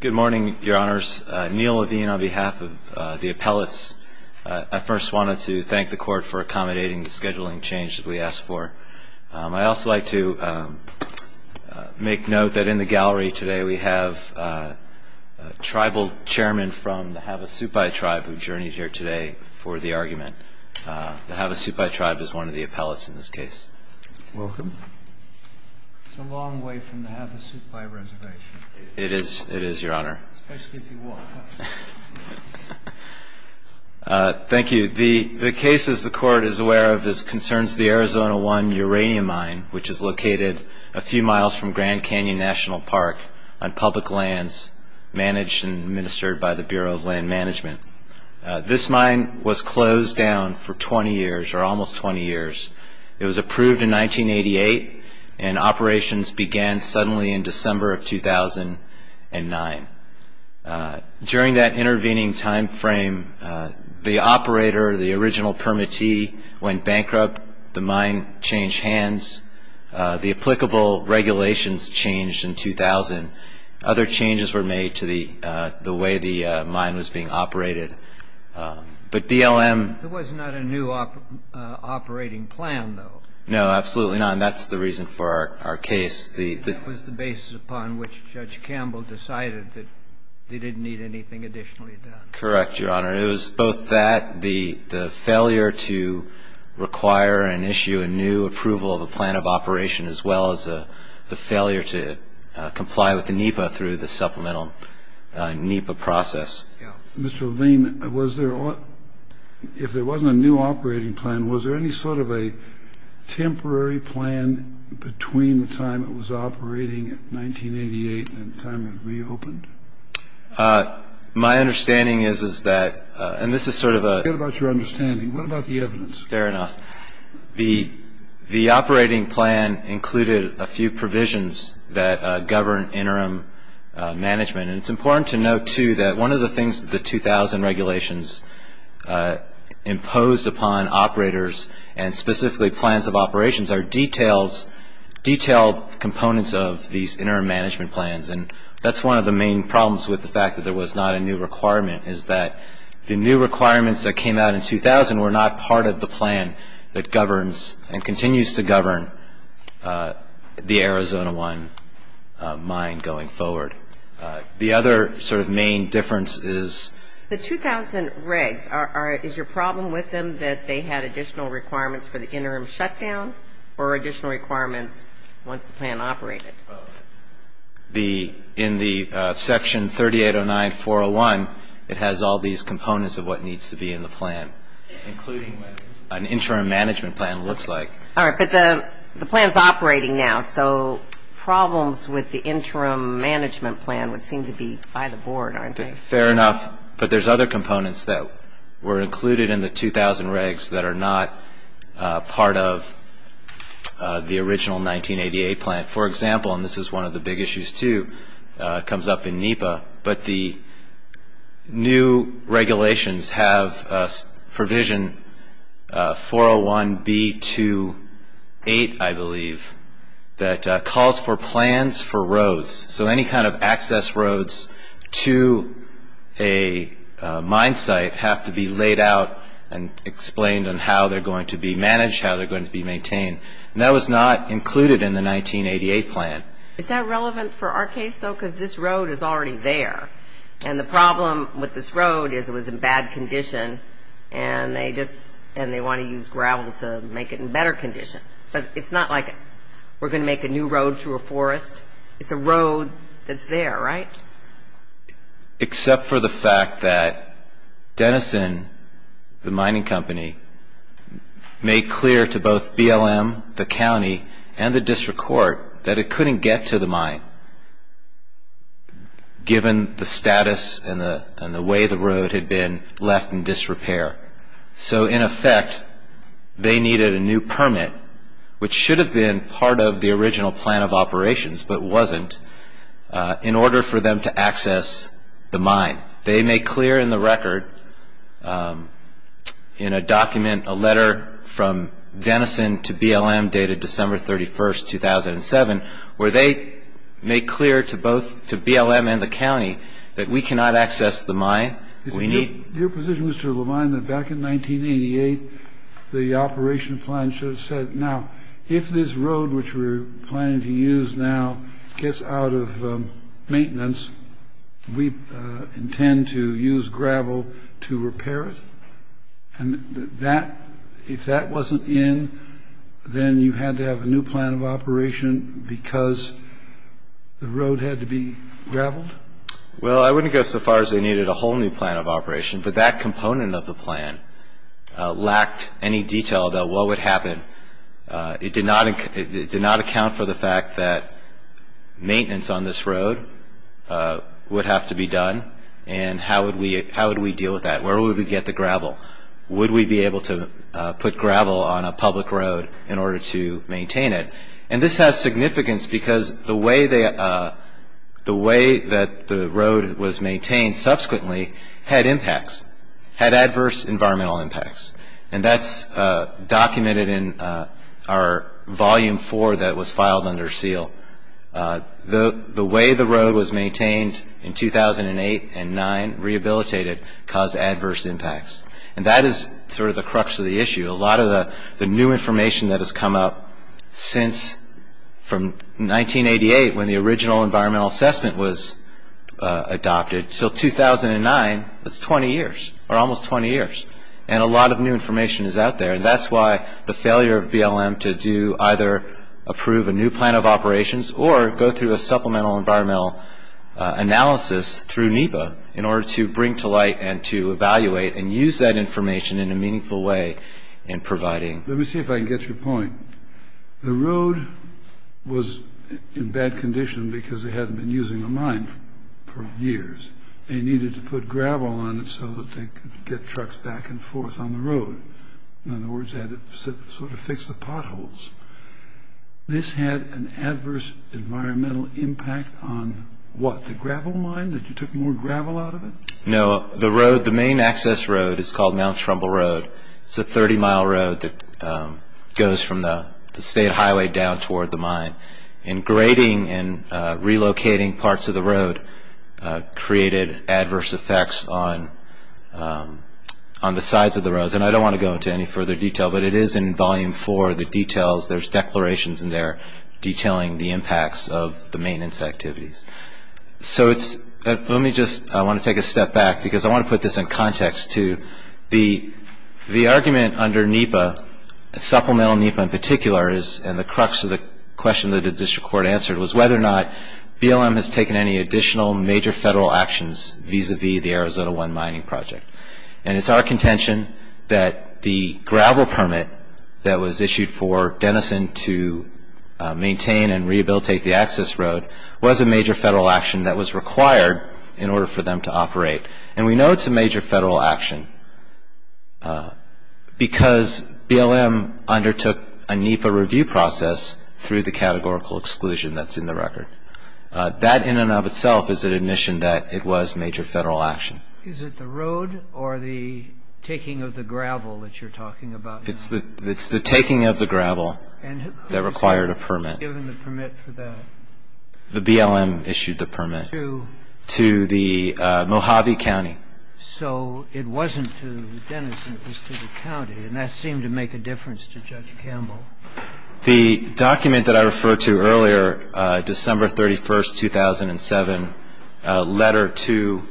Good morning, your honors. Neil Levine on behalf of the appellates. I first wanted to thank the court for accommodating the scheduling change that we asked for. I'd also like to make note that in the gallery today we have a tribal chairman from the Havasupai tribe who journeyed here today for the argument. The Havasupai tribe is one of the appellates in this case. Welcome. It's a long way from the Havasupai reservation. It is, your honor. Thank you. The case, as the court is aware of, concerns the Arizona 1 uranium mine, which is located a few miles from Grand Canyon National Park on public lands managed and administered by the Bureau of Land Management. This mine was closed down for 20 years, or almost 20 years. It was approved in 1988, and operations began suddenly in December of 2009. During that intervening time frame, the operator, the original permittee, went bankrupt. The mine changed hands. The applicable regulations changed in 2000. Other changes were made to the way the mine was being operated. But BLM ---- There was not a new operating plan, though. No, absolutely not. And that's the reason for our case. That was the basis upon which Judge Campbell decided that they didn't need anything additionally done. Correct, your honor. It was both that, the failure to require and issue a new approval of a plan of operation, as well as the failure to comply with the NEPA through the supplemental NEPA process. Mr. Levine, was there ---- If there wasn't a new operating plan, was there any sort of a temporary plan between the time it was operating in 1988 and the time it reopened? My understanding is, is that ---- And this is sort of a ---- What about your understanding? What about the evidence? Fair enough. The operating plan included a few provisions that govern interim management. And it's important to note, too, that one of the things that the 2000 regulations imposed upon operators, and specifically plans of operations, are detailed components of these interim management plans. And that's one of the main problems with the fact that there was not a new requirement, is that the new requirements that came out in 2000 were not part of the plan that governs And continues to govern the Arizona 1 mine going forward. The other sort of main difference is ---- The 2000 regs, is your problem with them that they had additional requirements for the interim shutdown or additional requirements once the plan operated? Both. In the Section 3809-401, it has all these components of what needs to be in the plan, including what an interim management plan looks like. All right. But the plan is operating now. So problems with the interim management plan would seem to be by the board, aren't they? Fair enough. But there's other components that were included in the 2000 regs that are not part of the original 1988 plan. For example, and this is one of the big issues, too, comes up in NEPA, but the new regulations have provision 401B28, I believe, that calls for plans for roads. So any kind of access roads to a mine site have to be laid out and explained on how they're going to be managed, how they're going to be maintained. And that was not included in the 1988 plan. Is that relevant for our case, though? Because this road is already there. And the problem with this road is it was in bad condition, and they want to use gravel to make it in better condition. But it's not like we're going to make a new road through a forest. It's a road that's there, right? Except for the fact that Denison, the mining company, made clear to both BLM, the county, and the district court that it couldn't get to the mine, given the status and the way the road had been left in disrepair. So, in effect, they needed a new permit, which should have been part of the original plan of operations, but wasn't, in order for them to access the mine. They made clear in the record, in a document, a letter from Denison to BLM dated December 31, 2007, where they made clear to both BLM and the county that we cannot access the mine. Your position is to remind them that back in 1988, the operation plan should have said, Now, if this road, which we're planning to use now, gets out of maintenance, we intend to use gravel to repair it, and if that wasn't in, then you had to have a new plan of operation because the road had to be graveled? Well, I wouldn't go so far as they needed a whole new plan of operation, but that component of the plan lacked any detail about what would happen. It did not account for the fact that maintenance on this road would have to be done, and how would we deal with that? Where would we get the gravel? Would we be able to put gravel on a public road in order to maintain it? And this has significance because the way that the road was maintained subsequently had impacts, had adverse environmental impacts, and that's documented in our Volume 4 that was filed under seal. The way the road was maintained in 2008 and 2009, rehabilitated, caused adverse impacts, and that is sort of the crux of the issue. A lot of the new information that has come up since from 1988, when the original environmental assessment was adopted, until 2009, that's 20 years, or almost 20 years, and a lot of new information is out there, and that's why the failure of BLM to either approve a new plan of operations or go through a supplemental environmental analysis through NEPA in order to bring to light and to evaluate and use that information in a meaningful way in providing... Let me see if I can get to your point. The road was in bad condition because they hadn't been using the mine for years. They needed to put gravel on it so that they could get trucks back and forth on the road. In other words, they had to sort of fix the potholes. This had an adverse environmental impact on what, the gravel mine, that you took more gravel out of it? No, the road, the main access road is called Mount Trumbull Road. It's a 30-mile road that goes from the state highway down toward the mine, and grading and relocating parts of the road created adverse effects on the sides of the roads, and I don't want to go into any further detail, but it is in Volume 4, the details. There's declarations in there detailing the impacts of the maintenance activities. Let me just, I want to take a step back because I want to put this in context too. The argument under NEPA, Supplemental NEPA in particular, and the crux of the question that the District Court answered, was whether or not BLM has taken any additional major federal actions vis-à-vis the Arizona One Mining Project. It's our contention that the gravel permit that was issued for Denison to maintain and rehabilitate the access road was a major federal action that was required in order for them to operate, and we know it's a major federal action because BLM undertook a NEPA review process through the categorical exclusion that's in the record. That in and of itself is an admission that it was major federal action. Is it the road or the taking of the gravel that you're talking about now? It's the taking of the gravel that required a permit. And who was given the permit for that? The BLM issued the permit. To? To the Mojave County. So it wasn't to Denison. It was to the county, and that seemed to make a difference to Judge Campbell. The document that I referred to earlier, December 31, 2007, letter to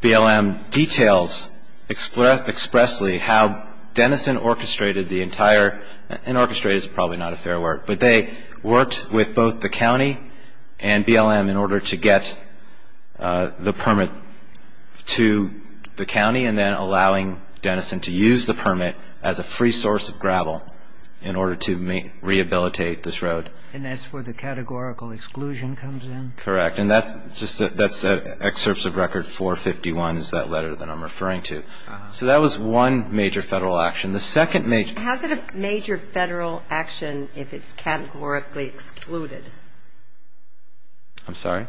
BLM details expressly how Denison orchestrated the entire and orchestrated is probably not a fair word, but they worked with both the county and BLM in order to get the permit to the county and then allowing Denison to use the permit as a free source of gravel in order to rehabilitate this road. And that's where the categorical exclusion comes in? Correct. And that's just the excerpts of record 451 is that letter that I'm referring to. So that was one major federal action. The second major action. How is it a major federal action if it's categorically excluded? I'm sorry?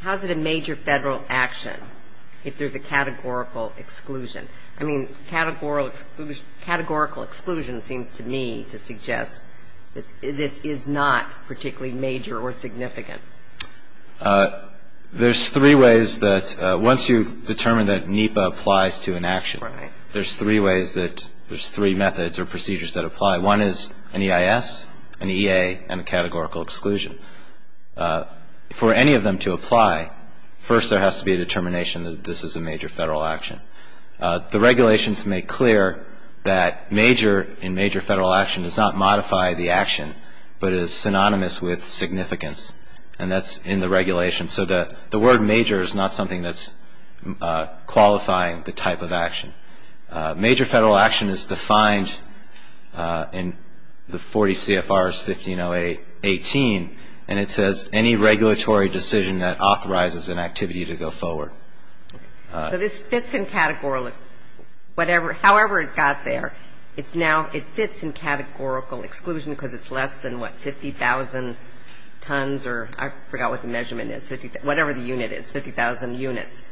How is it a major federal action if there's a categorical exclusion? I mean, categorical exclusion seems to me to suggest that this is not particularly major or significant. There's three ways that once you determine that NEPA applies to an action, there's three ways that there's three methods or procedures that apply. One is an EIS, an EA, and a categorical exclusion. For any of them to apply, first there has to be a determination that this is a major federal action. But it is synonymous with significance, and that's in the regulation. So the word major is not something that's qualifying the type of action. Major federal action is defined in the 40 CFRs, 1508, 18, and it says any regulatory decision that authorizes an activity to go forward. So this fits in categorical, however it got there, it fits in categorical exclusion because it's less than, what, 50,000 tons, or I forgot what the measurement is, whatever the unit is, 50,000 units.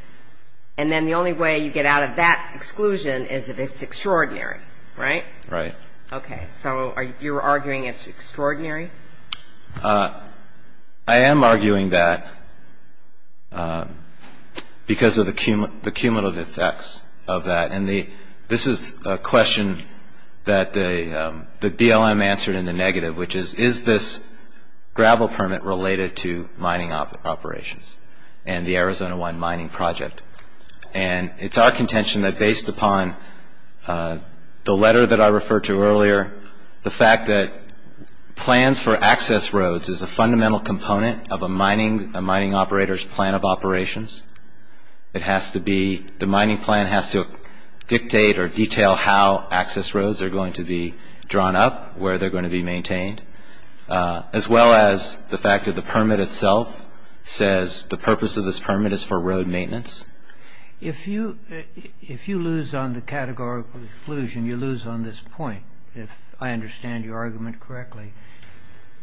And then the only way you get out of that exclusion is if it's extraordinary, right? Right. Okay. So you're arguing it's extraordinary? I am arguing that because of the cumulative effects of that. And this is a question that the BLM answered in the negative, which is, is this gravel permit related to mining operations and the Arizona One Mining Project? And it's our contention that based upon the letter that I referred to earlier, the fact that plans for access roads is a fundamental component of a mining operator's plan of operations. It has to be, the mining plan has to dictate or detail how access roads are going to be drawn up, where they're going to be maintained, as well as the fact that the permit itself says the purpose of this permit is for road maintenance. If you lose on the categorical exclusion, you lose on this point, if I understand your argument correctly.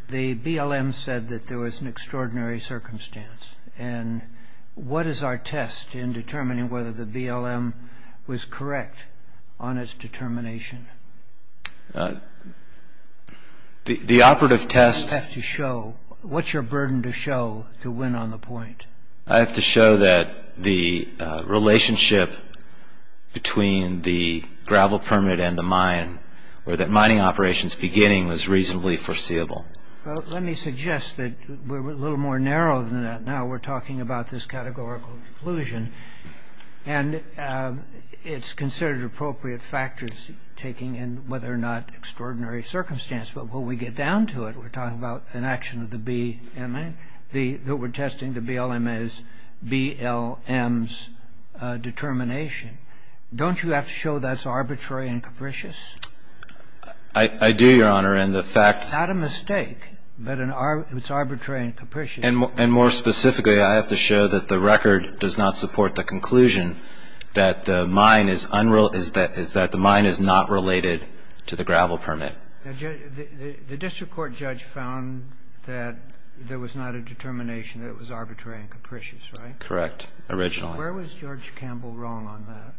The BLM said that there was an extraordinary circumstance. And what is our test in determining whether the BLM was correct on its determination? The operative test. You have to show, what's your burden to show to win on the point? I have to show that the relationship between the gravel permit and the mine, or that mining operations beginning was reasonably foreseeable. Well, let me suggest that we're a little more narrow than that now. We're talking about this categorical exclusion. And it's considered appropriate factors taking in whether or not extraordinary circumstance. But when we get down to it, we're talking about an action of the BLM, that we're testing the BLM's determination. Don't you have to show that's arbitrary and capricious? I do, Your Honor. It's not a mistake, but it's arbitrary and capricious. And more specifically, I have to show that the record does not support the conclusion that the mine is not related to the gravel permit. The district court judge found that there was not a determination that it was arbitrary and capricious, right? Correct. Originally. Where was George Campbell wrong on that?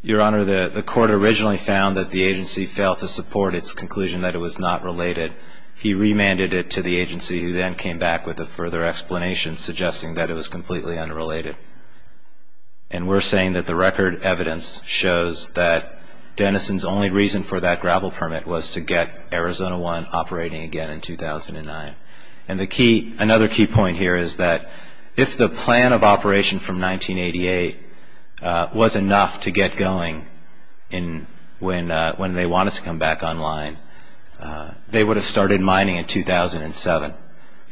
Your Honor, the court originally found that the agency failed to support its conclusion that it was not related. He remanded it to the agency who then came back with a further explanation suggesting that it was completely unrelated. And we're saying that the record evidence shows that Dennison's only reason for that gravel permit was to get Arizona One operating again in 2009. And another key point here is that if the plan of operation from 1988 was enough to get going when they wanted to come back online, they would have started mining in 2007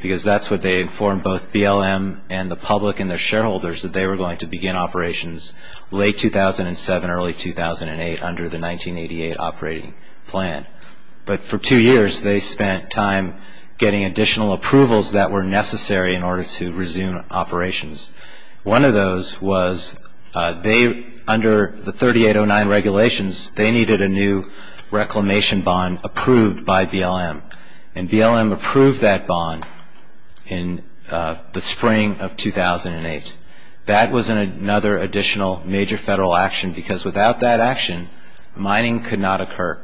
because that's what they informed both BLM and the public and their shareholders, that they were going to begin operations late 2007, early 2008 under the 1988 operating plan. But for two years, they spent time getting additional approvals that were necessary in order to resume operations. One of those was they, under the 3809 regulations, they needed a new reclamation bond approved by BLM. And BLM approved that bond in the spring of 2008. That was another additional major federal action because without that action, mining could not occur.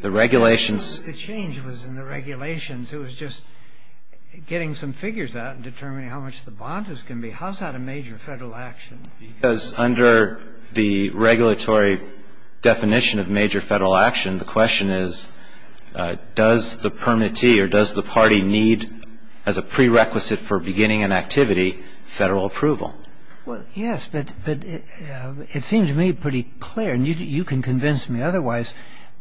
The regulations... The change was in the regulations. It was just getting some figures out and determining how much the bond is going to be. How is that a major federal action? Because under the regulatory definition of major federal action, the question is does the permittee or does the party need, as a prerequisite for beginning an activity, federal approval? Well, yes, but it seems to me pretty clear, and you can convince me otherwise,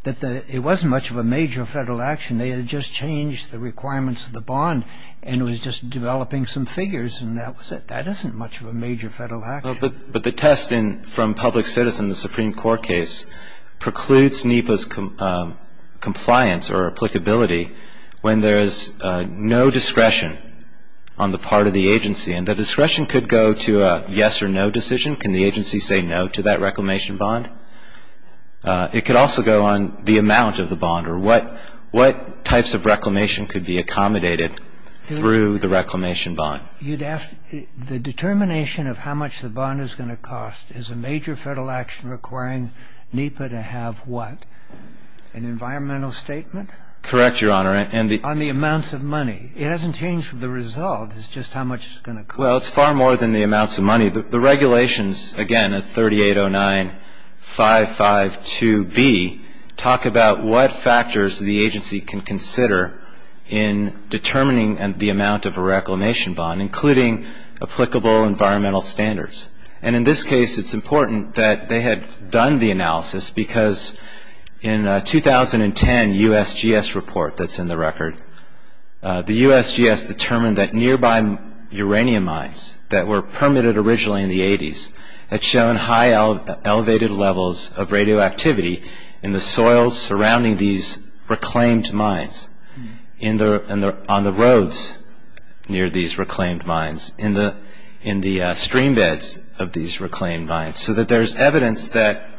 that it wasn't much of a major federal action. They had just changed the requirements of the bond and was just developing some figures, and that was it. That isn't much of a major federal action. But the test from Public Citizen, the Supreme Court case, precludes NEPA's compliance or applicability when there is no discretion on the part of the agency. And the discretion could go to a yes or no decision. Can the agency say no to that reclamation bond? It could also go on the amount of the bond or what types of reclamation could be accommodated through the reclamation bond. You'd ask the determination of how much the bond is going to cost is a major federal action requiring NEPA to have what? An environmental statement? Correct, Your Honor. On the amounts of money. It hasn't changed the result. It's just how much it's going to cost. Well, it's far more than the amounts of money. The regulations, again, at 3809.552b, talk about what factors the agency can consider in determining the amount of a reclamation bond, including applicable environmental standards. And in this case, it's important that they had done the analysis because in a 2010 USGS report that's in the record, the USGS determined that nearby uranium mines that were permitted originally in the 80s had shown high elevated levels of radioactivity in the soils surrounding these reclaimed mines, on the roads near these reclaimed mines, in the stream beds of these reclaimed mines, so that there's evidence that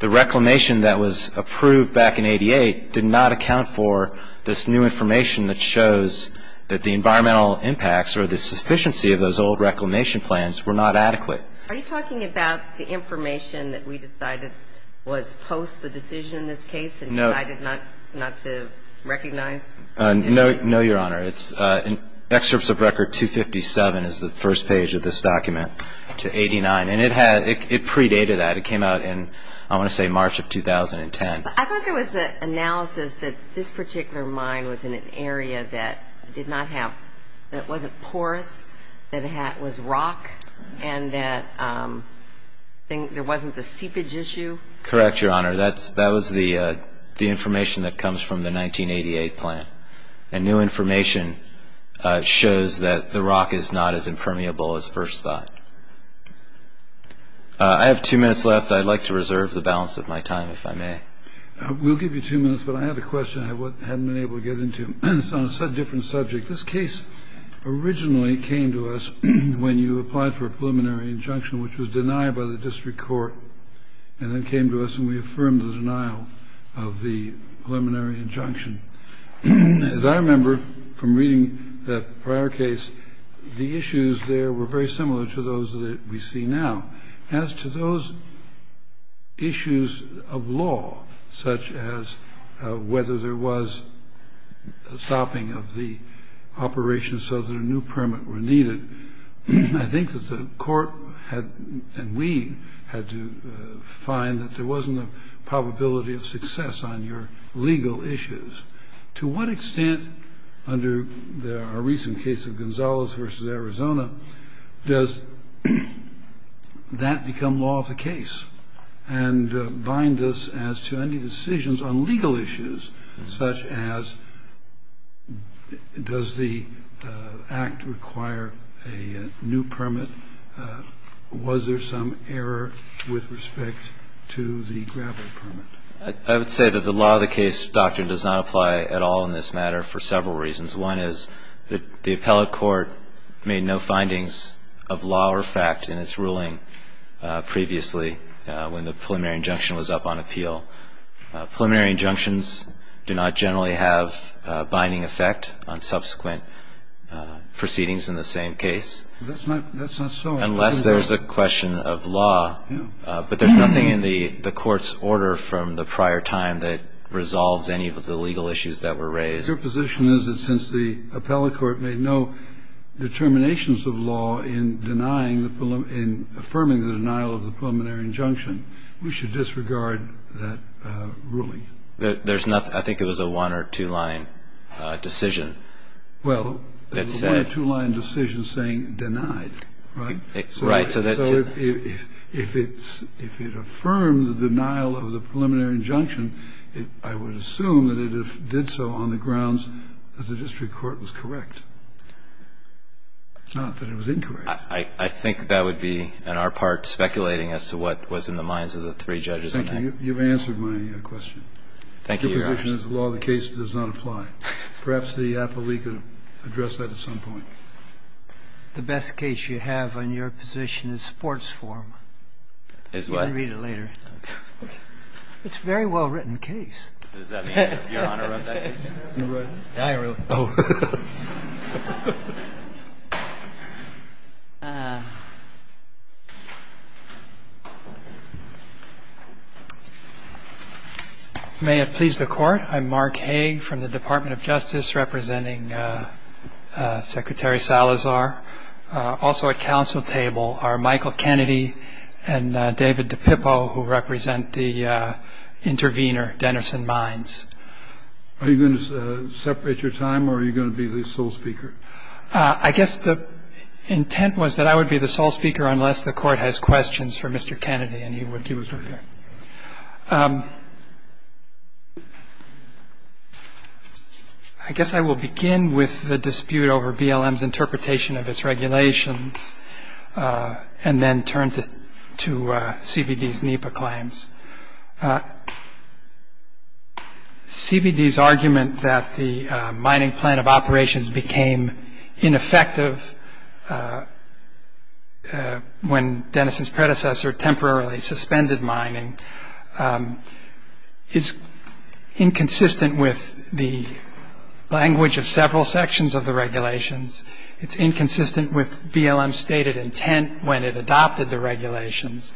the reclamation that was approved back in 88 did not account for this new information that shows that the environmental impacts or the sufficiency of those old reclamation plans were not adequate. Are you talking about the information that we decided was post the decision in this case and decided not to recognize? No, Your Honor. Excerpts of Record 257 is the first page of this document to 89. And it predated that. It came out in, I want to say, March of 2010. I thought there was an analysis that this particular mine was in an area that did not have, that wasn't porous, that was rock, and that there wasn't the seepage issue. Correct, Your Honor. That was the information that comes from the 1988 plan. And new information shows that the rock is not as impermeable as first thought. I have two minutes left. I'd like to reserve the balance of my time, if I may. We'll give you two minutes, but I have a question I hadn't been able to get into. It's on a different subject. This case originally came to us when you applied for a preliminary injunction, which was denied by the district court, and then came to us and we affirmed the denial of the preliminary injunction. As I remember from reading that prior case, the issues there were very similar to those that we see now. As to those issues of law, such as whether there was a stopping of the operation so that a new permit were needed, I think that the court and we had to find that there wasn't a probability of success on your legal issues. To what extent, under our recent case of Gonzales v. Arizona, does that become law of the case and bind us as to any decisions on legal issues, such as does the Act require a new permit? Was there some error with respect to the gravel permit? I would say that the law of the case doctrine does not apply at all in this matter for several reasons. One is that the appellate court made no findings of law or fact in its ruling previously when the preliminary injunction was up on appeal. Preliminary injunctions do not generally have a binding effect on subsequent proceedings in the same case. That's not so. Unless there's a question of law, but there's nothing in the court's order from the prior time that resolves any of the legal issues that were raised. Your position is that since the appellate court made no determinations of law in affirming the denial of the preliminary injunction, we should disregard that ruling. There's nothing. I think it was a one- or two-line decision. Well, it was a one- or two-line decision saying denied. Right. So if it affirmed the denial of the preliminary injunction, I would assume that it did so on the grounds that the district court was correct, not that it was incorrect. I think that would be, on our part, speculating as to what was in the minds of the three judges on that. Thank you. You've answered my question. Thank you, Your Honor. Your position is the law of the case does not apply. Perhaps the appellate could address that at some point. The best case you have on your position is sports form. Is what? You can read it later. It's a very well-written case. Does that mean Your Honor wrote that case? I wrote it. I wrote it. Oh. May it please the Court. I'm Mark Hague from the Department of Justice, representing Secretary Salazar. Also at counsel table are Michael Kennedy and David DePippo, who represent the intervener, Denison Mines. Are you going to separate your time, or are you going to be the sole speaker? I guess the intent was that I would be the sole speaker unless the Court has questions for Mr. Kennedy, and he would give us right here. I guess I will begin with the dispute over BLM's interpretation of its regulations, and then turn to CBD's NEPA claims. CBD's argument that the mining plan of operations became ineffective when Denison's predecessor temporarily suspended mining is inconsistent with the language of several sections of the regulations. It's inconsistent with BLM's stated intent when it adopted the regulations.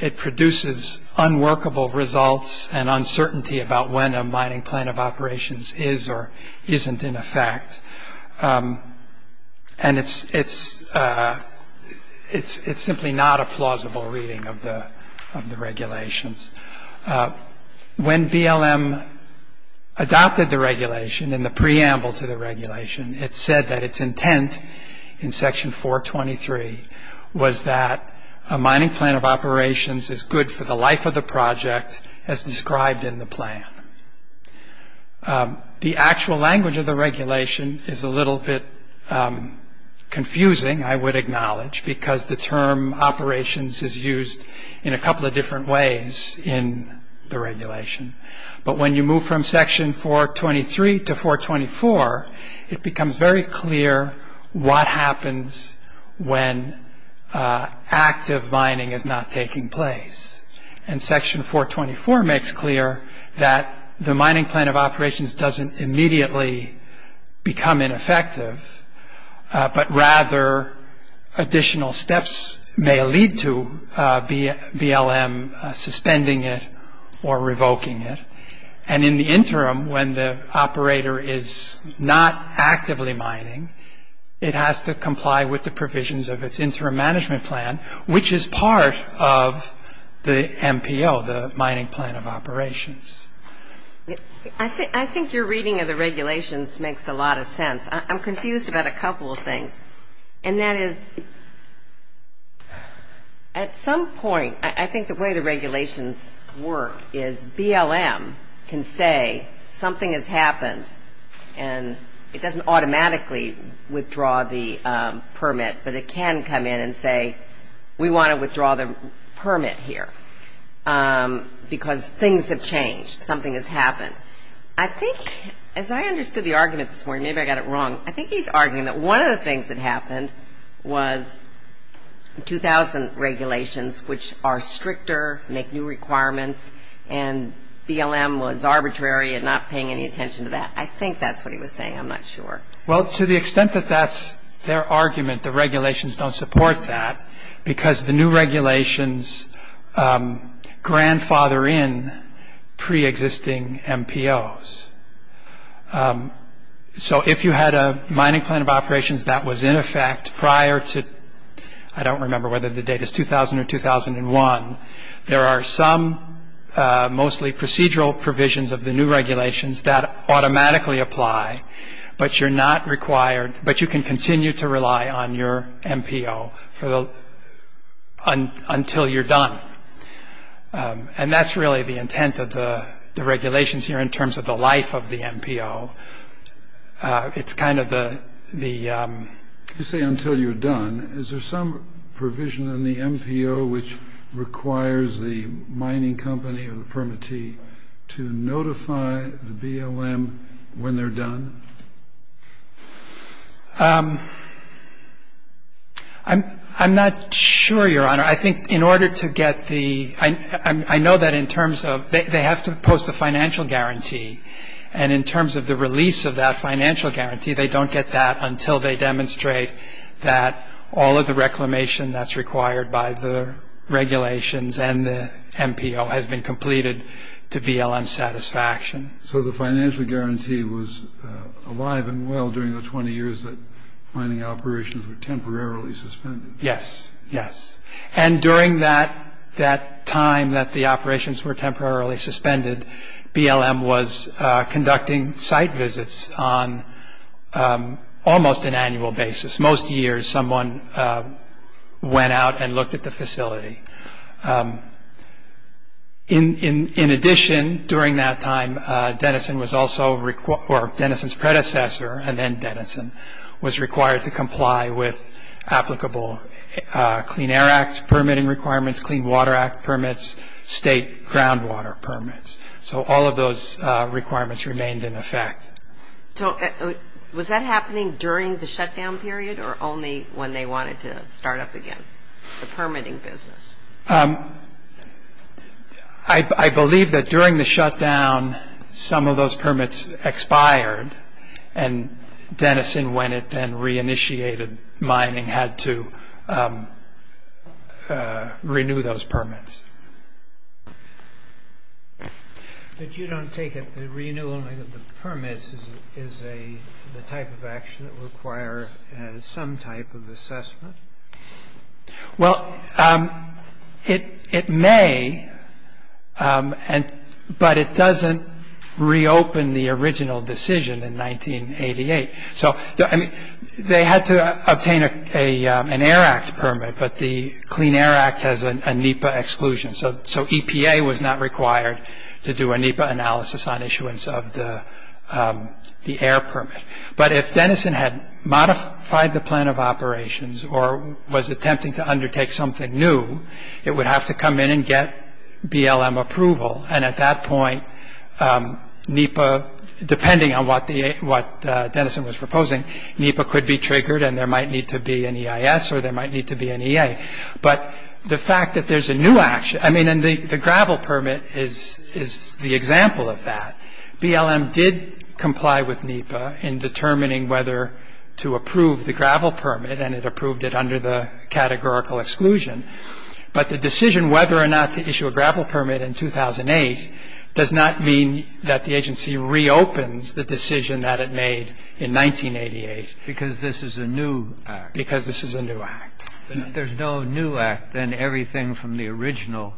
It produces unworkable results and uncertainty about when a mining plan of operations is or isn't in effect. And it's simply not a plausible reading of the regulations. When BLM adopted the regulation in the preamble to the regulation, it said that its intent in section 423 was that a mining plan of operations is good for the life of the project as described in the plan. The actual language of the regulation is a little bit confusing, I would acknowledge, because the term operations is used in a couple of different ways in the regulation. But when you move from section 423 to 424, it becomes very clear what happens when active mining is not taking place. And section 424 makes clear that the mining plan of operations doesn't immediately become ineffective, but rather additional steps may lead to BLM suspending it or revoking it. And in the interim, when the operator is not actively mining, it has to comply with the MPO, the mining plan of operations. I think your reading of the regulations makes a lot of sense. I'm confused about a couple of things, and that is at some point, I think the way the regulations work is BLM can say something has happened, and it doesn't automatically the permit, but it can come in and say we want to withdraw the permit here because things have changed, something has happened. I think, as I understood the argument this morning, maybe I got it wrong, I think he's arguing that one of the things that happened was 2000 regulations, which are stricter, make new requirements, and BLM was arbitrary in not paying any attention to that. I think that's what he was saying. I'm not sure. Well, to the extent that that's their argument, the regulations don't support that because the new regulations grandfather in pre-existing MPOs. So if you had a mining plan of operations that was in effect prior to, I don't remember whether the date is 2000 or 2001, there are some mostly procedural provisions of the new apply, but you're not required, but you can continue to rely on your MPO until you're done. And that's really the intent of the regulations here in terms of the life of the MPO. It's kind of the... You say until you're done. Is there some provision in the MPO which requires the mining company or the permittee to notify the BLM when they're done? I'm not sure, Your Honor. I think in order to get the... I know that in terms of they have to post a financial guarantee, and in terms of the release of that financial guarantee, they don't get that until they demonstrate that all of the reclamation that's required by the regulations and the MPO has been completed to BLM satisfaction. So the financial guarantee was alive and well during the 20 years that mining operations were temporarily suspended? Yes. Yes. And during that time that the operations were temporarily suspended, BLM was conducting site visits on almost an annual basis. Most years, someone went out and looked at the facility. In addition, during that time, Denison was also... Or Denison's predecessor, and then Denison, was required to comply with applicable Clean Air Act permitting requirements, Clean Water Act permits, state groundwater permits. So all of those requirements remained in effect. Was that happening during the shutdown period, or only when they wanted to start up again the permitting business? I believe that during the shutdown, some of those permits expired, and Denison, when it then reinitiated mining, had to renew those permits. But you don't take it that renewing of the permits is the type of action that requires some type of assessment? Well, it may, but it doesn't reopen the original decision in 1988. They had to obtain an Air Act permit, but the Clean Air Act has a NEPA exclusion. So EPA was not required to do a NEPA analysis on issuance of the air permit. But if Denison had modified the plan of operations or was attempting to undertake something new, it would have to come in and get BLM approval. And at that point, NEPA, depending on what Denison was proposing, NEPA could be triggered and there might need to be an EIS or there might need to be an EA. But the fact that there's a new action, I mean, and the gravel permit is the example of that. BLM did comply with NEPA in determining whether to approve the gravel permit, and it approved it under the categorical exclusion. But the decision whether or not to issue a gravel permit in 2008 does not mean that the agency reopens the decision that it made in 1988. Because this is a new act. Because this is a new act. But if there's no new act, then everything from the original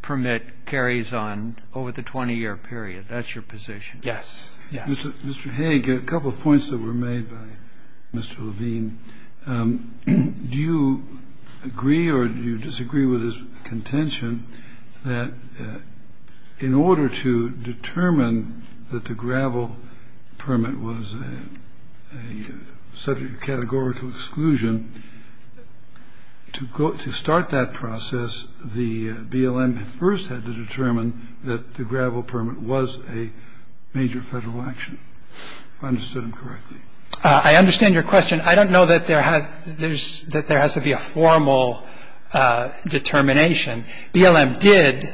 permit carries on over the 20-year period. That's your position? Yes. Yes. Mr. Hague, a couple of points that were made by Mr. Levine. Mr. Levine, do you agree or do you disagree with his contention that in order to determine that the gravel permit was a subject of categorical exclusion, to start that process, the BLM first had to determine that the gravel permit was a major Federal action, if I understood him correctly. I understand your question. I don't know that there has to be a formal determination. BLM did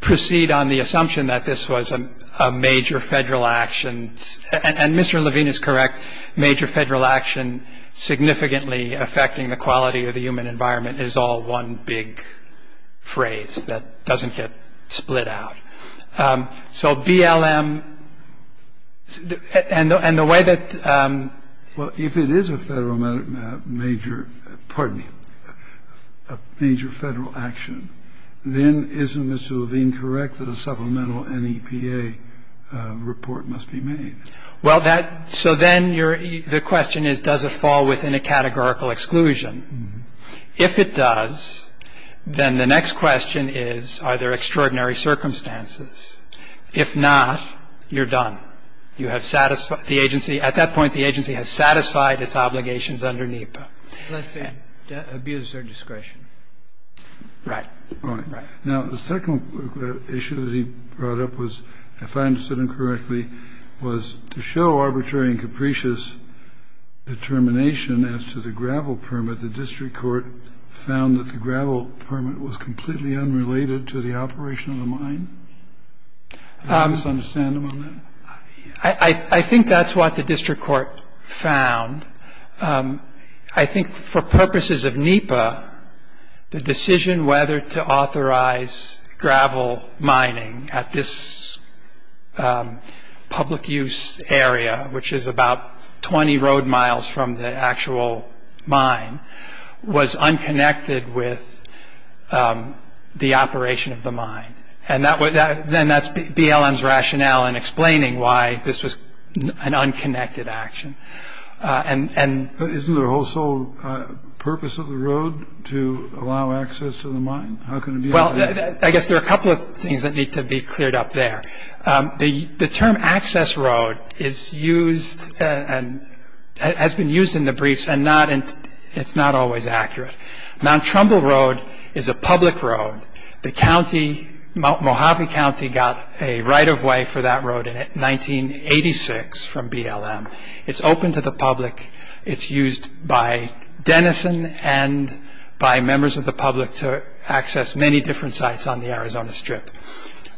proceed on the assumption that this was a major Federal action. And Mr. Levine is correct. Major Federal action significantly affecting the quality of the human environment is all one big phrase that doesn't get split out. So BLM and the way that the question is, does it fall within a categorical exclusion? Well, if it is a major Federal action, then isn't Mr. Levine correct that a supplemental NEPA report must be made? Well, that so then the question is, does it fall within a categorical exclusion? If it does, then the next question is, are there extraordinary circumstances? If not, you're done. You have satisfied the agency. At that point, the agency has satisfied its obligations under NEPA. Let's say abused their discretion. Right. Right. Now, the second issue that he brought up was, if I understood him correctly, was to show arbitrary and capricious determination as to the gravel permit. The district court found that the gravel permit was completely unrelated to the operation of the mine. Did I misunderstand him on that? I think that's what the district court found. I think for purposes of NEPA, the decision whether to authorize gravel mining at this public use area, which is about 20 road miles from the actual mine, was unconnected with the operation of the mine. And then that's BLM's rationale in explaining why this was an unconnected action. Isn't there also a purpose of the road to allow access to the mine? Well, I guess there are a couple of things that need to be cleared up there. The term access road has been used in the briefs, and it's not always accurate. Mount Trumbull Road is a public road. The county, Mojave County, got a right of way for that road in 1986 from BLM. It's open to the public. It's used by Denison and by members of the public to access many different sites on the Arizona Strip.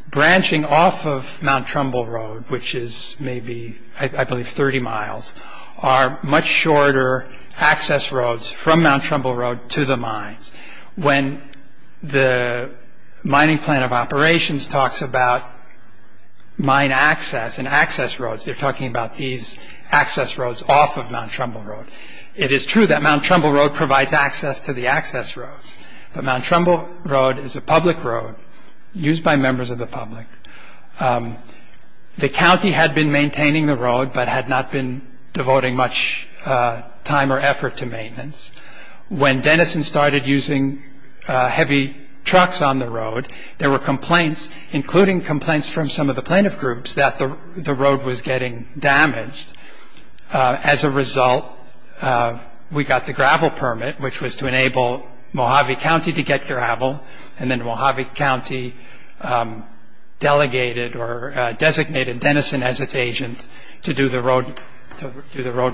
Branching off of Mount Trumbull Road, which is maybe, I believe, 30 miles, are much shorter access roads from Mount Trumbull Road to the mines. When the mining plan of operations talks about mine access and access roads, they're talking about these access roads off of Mount Trumbull Road. It is true that Mount Trumbull Road provides access to the access road, but Mount Trumbull Road is a public road used by members of the public. The county had been maintaining the road, but had not been devoting much time or effort to maintenance. When Denison started using heavy trucks on the road, there were complaints, including complaints from some of the plaintiff groups, that the road was getting damaged. As a result, we got the gravel permit, which was to enable Mojave County to get gravel, and then Mojave County designated Denison as its agent to do the road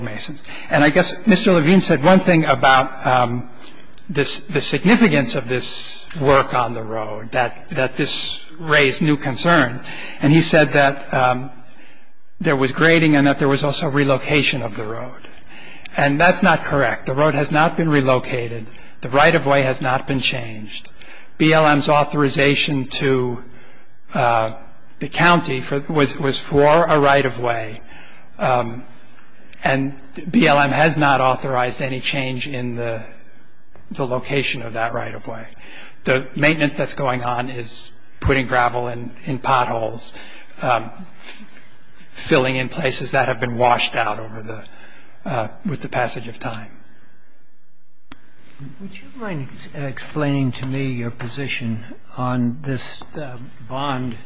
masons. I guess Mr. Levine said one thing about the significance of this work on the road, that this raised new concerns. He said that there was grading and that there was also relocation of the road. That's not correct. The road has not been relocated. The right-of-way has not been changed. BLM's authorization to the county was for a right-of-way. And BLM has not authorized any change in the location of that right-of-way. The maintenance that's going on is putting gravel in potholes, filling in places that have been washed out with the passage of time. Would you mind explaining to me your position on this bond?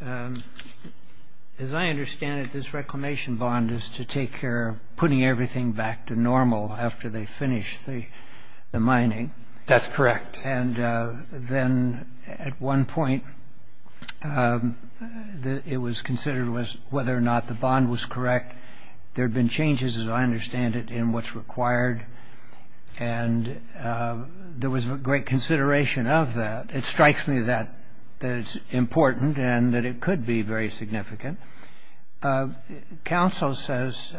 As I understand it, this reclamation bond is to take care of putting everything back to normal after they finish the mining. That's correct. And then at one point, it was considered whether or not the bond was correct. There had been changes, as I understand it, in what's required, and there was great consideration of that. It strikes me that it's important and that it could be very significant. Counsel says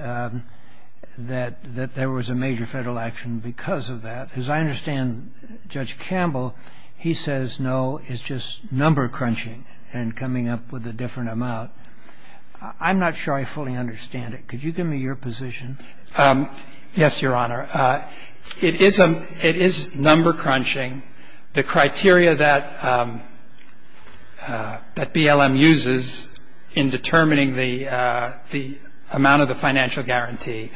that there was a major Federal action because of that. As I understand, Judge Campbell, he says, no, it's just number crunching and coming up with a different amount. I'm not sure I fully understand it. Could you give me your position? Yes, Your Honor. It is number crunching. The criteria that BLM uses in determining the amount of the financial guarantee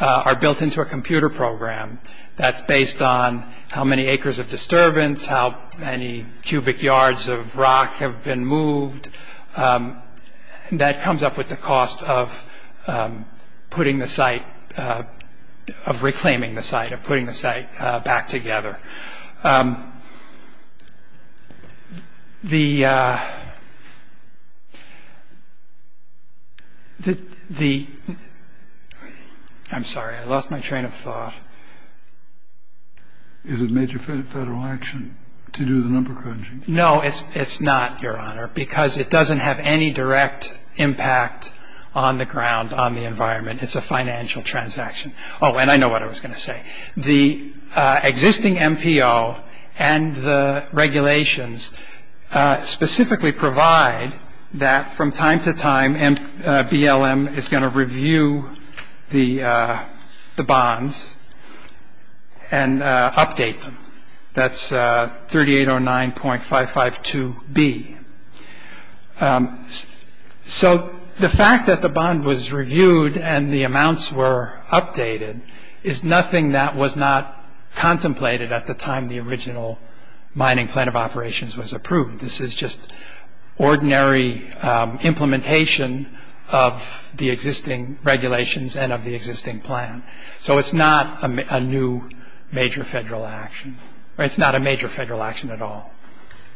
are built into a computer program that's based on how many acres of disturbance, how many cubic yards of rock have been moved. And that comes up with the cost of putting the site, of reclaiming the site, of putting the site back together. The ‑‑ I'm sorry. I lost my train of thought. Is it major Federal action to do the number crunching? No, it's not, Your Honor, because it doesn't have any direct impact on the ground, on the environment. It's a financial transaction. Oh, and I know what I was going to say. The existing MPO and the regulations specifically provide that from time to time, BLM is going to review the bonds and update them. That's 3809.552B. So the fact that the bond was reviewed and the amounts were updated is nothing that was not contemplated at the time the original Mining Plan of Operations was approved. This is just ordinary implementation of the existing regulations and of the existing plan. So it's not a new major Federal action, or it's not a major Federal action at all.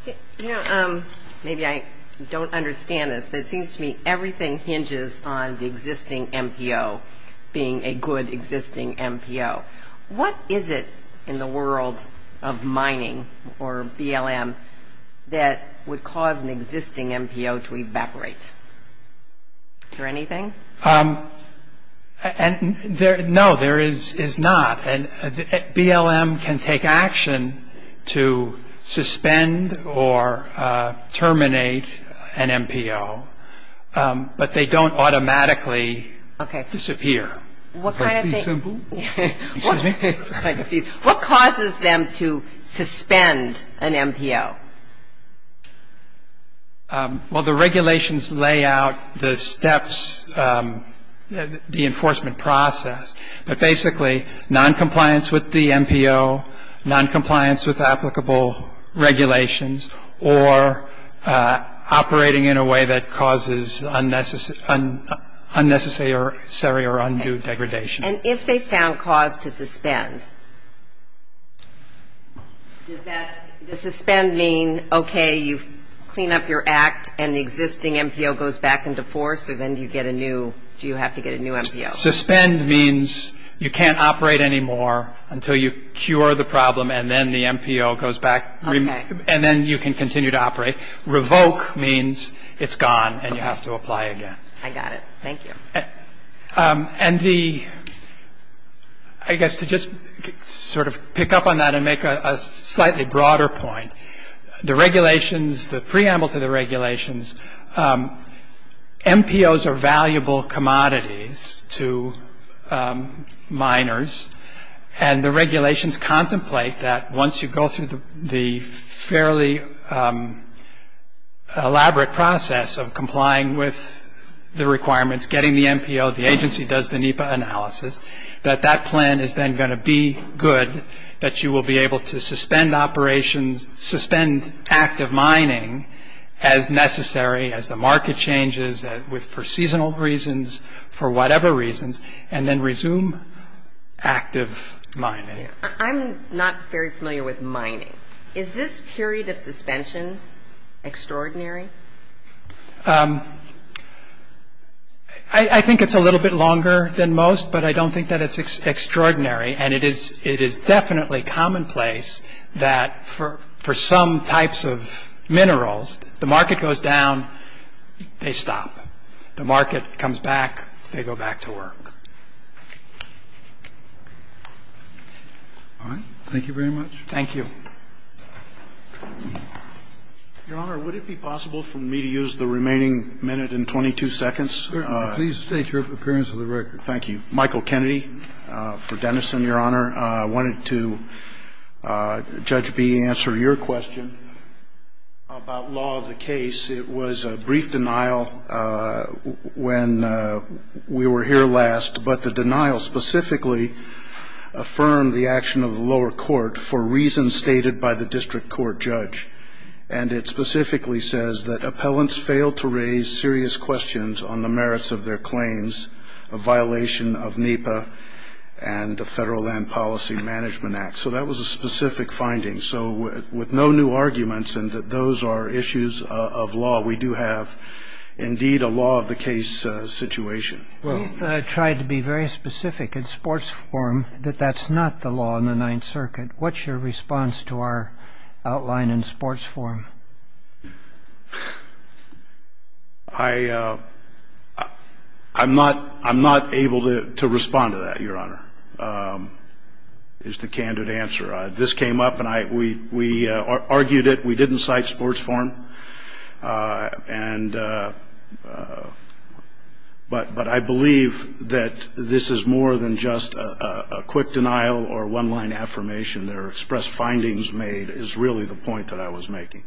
You know, maybe I don't understand this, but it seems to me everything hinges on the existing MPO being a good existing MPO. What is it in the world of mining or BLM that would cause an existing MPO to evaporate? Is there anything? No, there is not. BLM can take action to suspend or terminate an MPO, but they don't automatically disappear. Okay. What kind of thing? Is that too simple? What causes them to suspend an MPO? Well, the regulations lay out the steps, the enforcement process, but basically noncompliance with the MPO, noncompliance with applicable regulations, or operating in a way that causes unnecessary or undue degradation. And if they found cause to suspend, does suspend mean, okay, you clean up your act and the existing MPO goes back into force, or then do you have to get a new MPO? Suspend means you can't operate anymore until you cure the problem and then the MPO goes back, and then you can continue to operate. Revoke means it's gone and you have to apply again. I got it. Thank you. And the, I guess to just sort of pick up on that and make a slightly broader point, the regulations, the preamble to the regulations, MPOs are valuable commodities to miners, and the regulations contemplate that once you go through the fairly elaborate process of complying with the requirements, getting the MPO, the agency does the NEPA analysis, that that plan is then going to be good, that you will be able to suspend operations, suspend active mining as necessary, as the market changes, for seasonal reasons, for whatever reasons, and then resume active mining. I'm not very familiar with mining. Is this period of suspension extraordinary? I think it's a little bit longer than most, but I don't think that it's extraordinary, and it is definitely commonplace that for some types of minerals, the market goes down, they stop. The market comes back, they go back to work. All right. Thank you very much. Thank you. Your Honor, would it be possible for me to use the remaining minute and 22 seconds? Please state your appearance for the record. Thank you. Michael Kennedy for Denison, Your Honor. I wanted to, Judge B, answer your question about law of the case. It was a brief denial when we were here last, but the denial specifically affirmed the action of the lower court for reasons stated by the district court judge. And it specifically says that appellants failed to raise serious questions on the merits of their claims, a violation of NEPA and the Federal Land Policy Management Act. So that was a specific finding. So with no new arguments and that those are issues of law, we do have indeed a law of the case situation. You've tried to be very specific in sports form that that's not the law in the Ninth Circuit. What's your response to our outline in sports form? I'm not able to respond to that, Your Honor, is the candid answer. This came up, and we argued it. We didn't cite sports form. But I believe that this is more than just a quick denial or one-line affirmation. Their expressed findings made is really the point that I was making.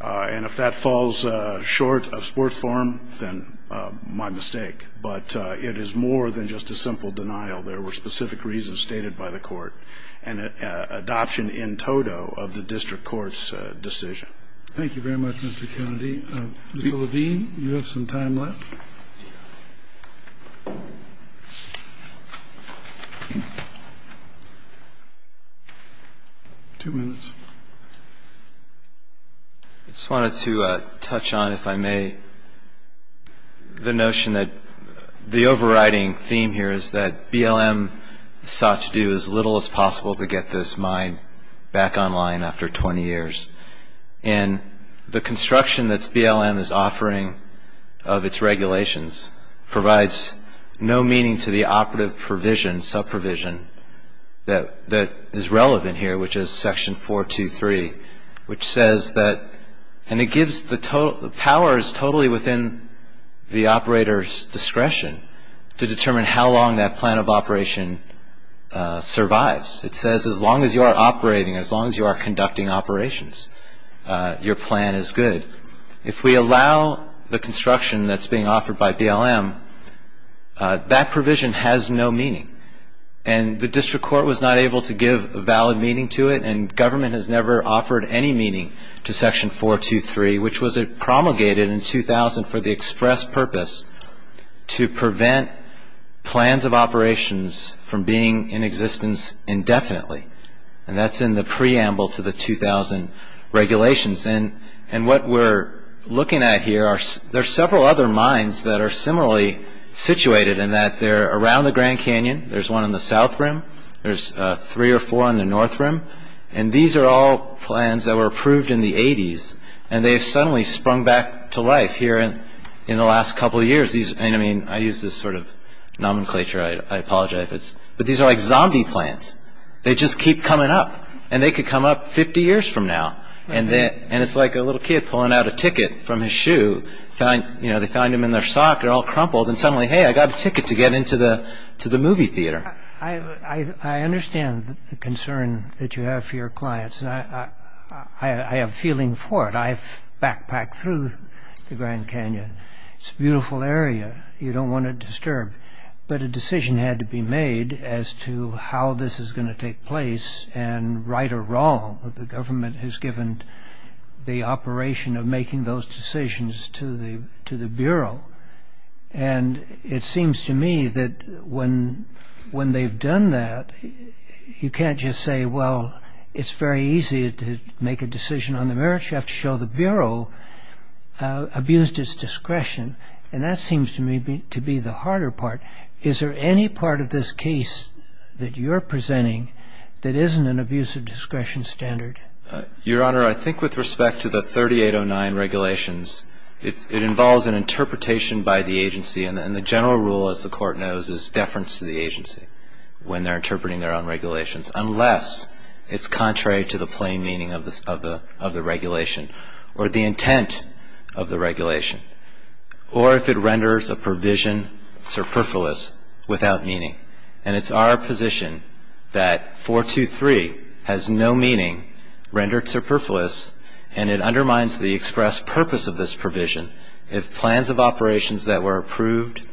And if that falls short of sports form, then my mistake. But it is more than just a simple denial. There were specific reasons stated by the court and adoption in toto of the district court's decision. Thank you very much, Mr. Kennedy. Mr. Levine, you have some time left. Two minutes. I just wanted to touch on, if I may, the notion that the overriding theme here is that BLM sought to do as little as possible to get this mine back online after 20 years. And the construction that BLM is offering of its regulations provides no meaning to the operative provision, sub-provision, that is relevant here, which is Section 423, which says that, and it gives the powers totally within the operator's discretion to determine how long that plan of operation survives. It says as long as you are operating, as long as you are conducting operations, your plan is good. If we allow the construction that's being offered by BLM, that provision has no meaning. And the district court was not able to give a valid meaning to it, and government has never offered any meaning to Section 423, which was promulgated in 2000 for the express purpose to prevent plans of operations from being in existence indefinitely. And that's in the preamble to the 2000 regulations. And what we're looking at here, there are several other mines that are similarly situated in that they're around the Grand Canyon. There's one in the South Rim. There's three or four in the North Rim. And these are all plans that were approved in the 80s. And they have suddenly sprung back to life here in the last couple of years. And, I mean, I use this sort of nomenclature. I apologize. But these are like zombie plans. They just keep coming up. And they could come up 50 years from now. And it's like a little kid pulling out a ticket from his shoe. They find him in their sock. They're all crumpled. And suddenly, hey, I got a ticket to get into the movie theater. I understand the concern that you have for your clients. I have a feeling for it. I've backpacked through the Grand Canyon. It's a beautiful area. You don't want to disturb. But a decision had to be made as to how this is going to take place and right or wrong. The government has given the operation of making those decisions to the Bureau. And it seems to me that when they've done that, you can't just say, well, it's very easy to make a decision on the merits. You have to show the Bureau abused its discretion. And that seems to me to be the harder part. Is there any part of this case that you're presenting that isn't an abuse of discretion standard? Your Honor, I think with respect to the 3809 regulations, it involves an interpretation by the agency. And the general rule, as the Court knows, is deference to the agency when they're interpreting their own regulations, unless it's contrary to the plain meaning of the regulation or the intent of the regulation or if it renders a provision superfluous without meaning. And it's our position that 423 has no meaning rendered superfluous, and it undermines the express purpose of this provision. If plans of operations that were approved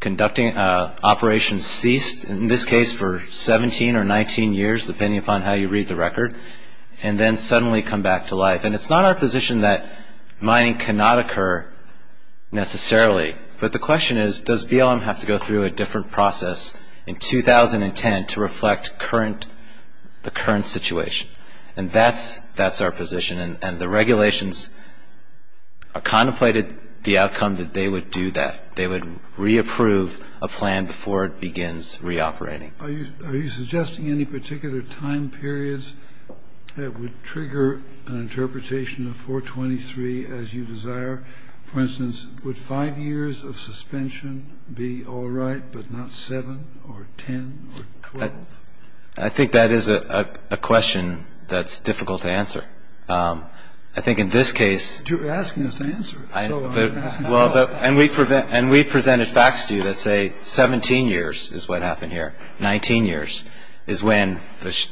conducting operations ceased, in this case for 17 or 19 years, depending upon how you read the record, and then suddenly come back to life. And it's not our position that mining cannot occur necessarily. But the question is, does BLM have to go through a different process in 2010 to reflect the current situation? And that's our position. And the regulations contemplated the outcome that they would do that. They would reapprove a plan before it begins reoperating. Are you suggesting any particular time periods that would trigger an interpretation of 423 as you desire? For instance, would 5 years of suspension be all right, but not 7 or 10 or 12? I think that is a question that's difficult to answer. I think in this case. You're asking us to answer it. And we've presented facts to you that say 17 years is what happened here. 19 years is when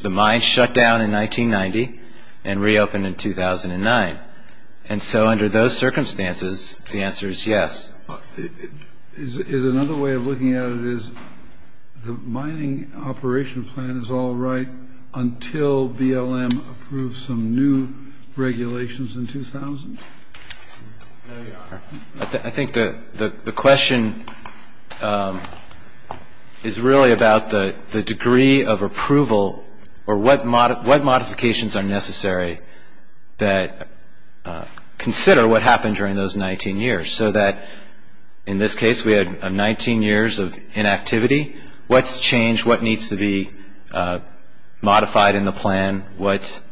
the mine shut down in 1990 and reopened in 2009. And so under those circumstances, the answer is yes. Another way of looking at it is the mining operation plan is all right until BLM approves some new regulations in 2000? There you are. I think the question is really about the degree of approval or what modifications are necessary that consider what happened during those 19 years so that in this case we had 19 years of inactivity. What's changed? What needs to be modified in the plan? What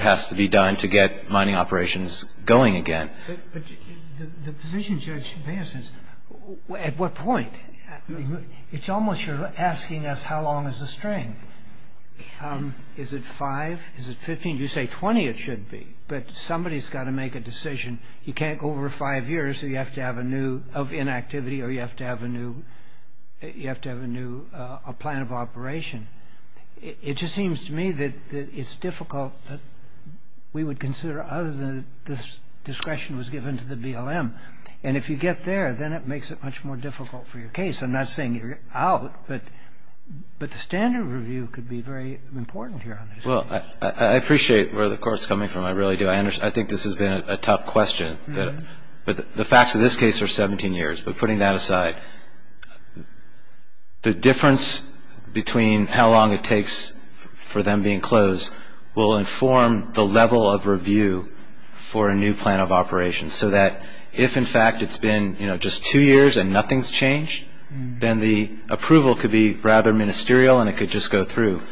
has to be done to get mining operations going again? But the position should make sense. At what point? It's almost you're asking us how long is the string. Is it 5? Is it 15? You say 20 it should be. But somebody's got to make a decision. You can't go over 5 years so you have to have a new of inactivity or you have to have a new plan of operation. It just seems to me that it's difficult that we would consider other than this discretion was given to the BLM. And if you get there, then it makes it much more difficult for your case. I'm not saying you're out, but the standard review could be very important here. Well, I appreciate where the court's coming from. I really do. I think this has been a tough question. But the facts of this case are 17 years. But putting that aside, the difference between how long it takes for them being closed will inform the level of review for a new plan of operation so that if, in fact, it's been just two years and nothing's changed, then the approval could be rather ministerial and it could just go through.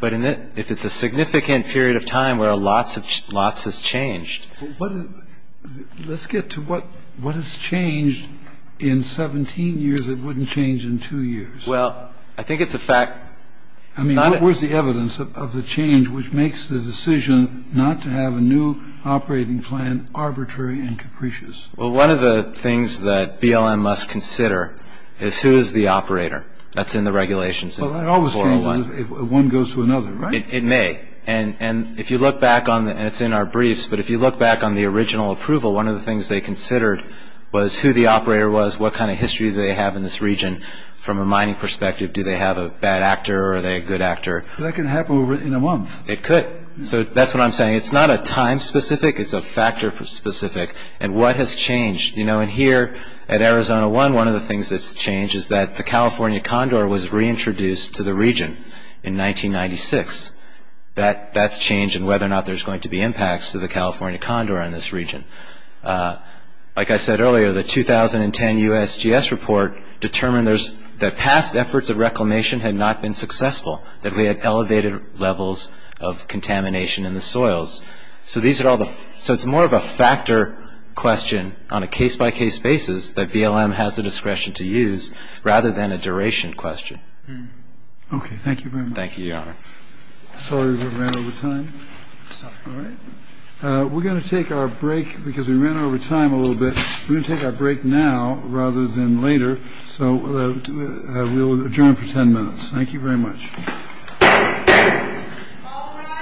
But if it's a significant period of time where lots has changed. Let's get to what has changed. In 17 years, it wouldn't change in two years. Well, I think it's a fact. I mean, what was the evidence of the change which makes the decision not to have a new operating plan arbitrary and capricious? Well, one of the things that BLM must consider is who is the operator. That's in the regulations. Well, it always changes if one goes to another, right? It may. And if you look back on it, and it's in our briefs, but if you look back on the original approval, one of the things they considered was who the operator was, what kind of history they have in this region from a mining perspective. Do they have a bad actor or are they a good actor? That can happen in a month. It could. So that's what I'm saying. It's not a time specific. It's a factor specific. And what has changed? You know, in here at Arizona One, one of the things that's changed is that the California condor was reintroduced to the region in 1996. That's changed, and whether or not there's going to be impacts to the California condor in this region. Like I said earlier, the 2010 USGS report determined that past efforts of reclamation had not been successful, that we had elevated levels of contamination in the soils. So it's more of a factor question on a case-by-case basis that BLM has the discretion to use rather than a duration question. Okay. Thank you very much. Thank you, Your Honor. Sorry we ran over time. It's all right. We're going to take our break because we ran over time a little bit. We're going to take our break now rather than later. So we'll adjourn for 10 minutes. Thank you very much.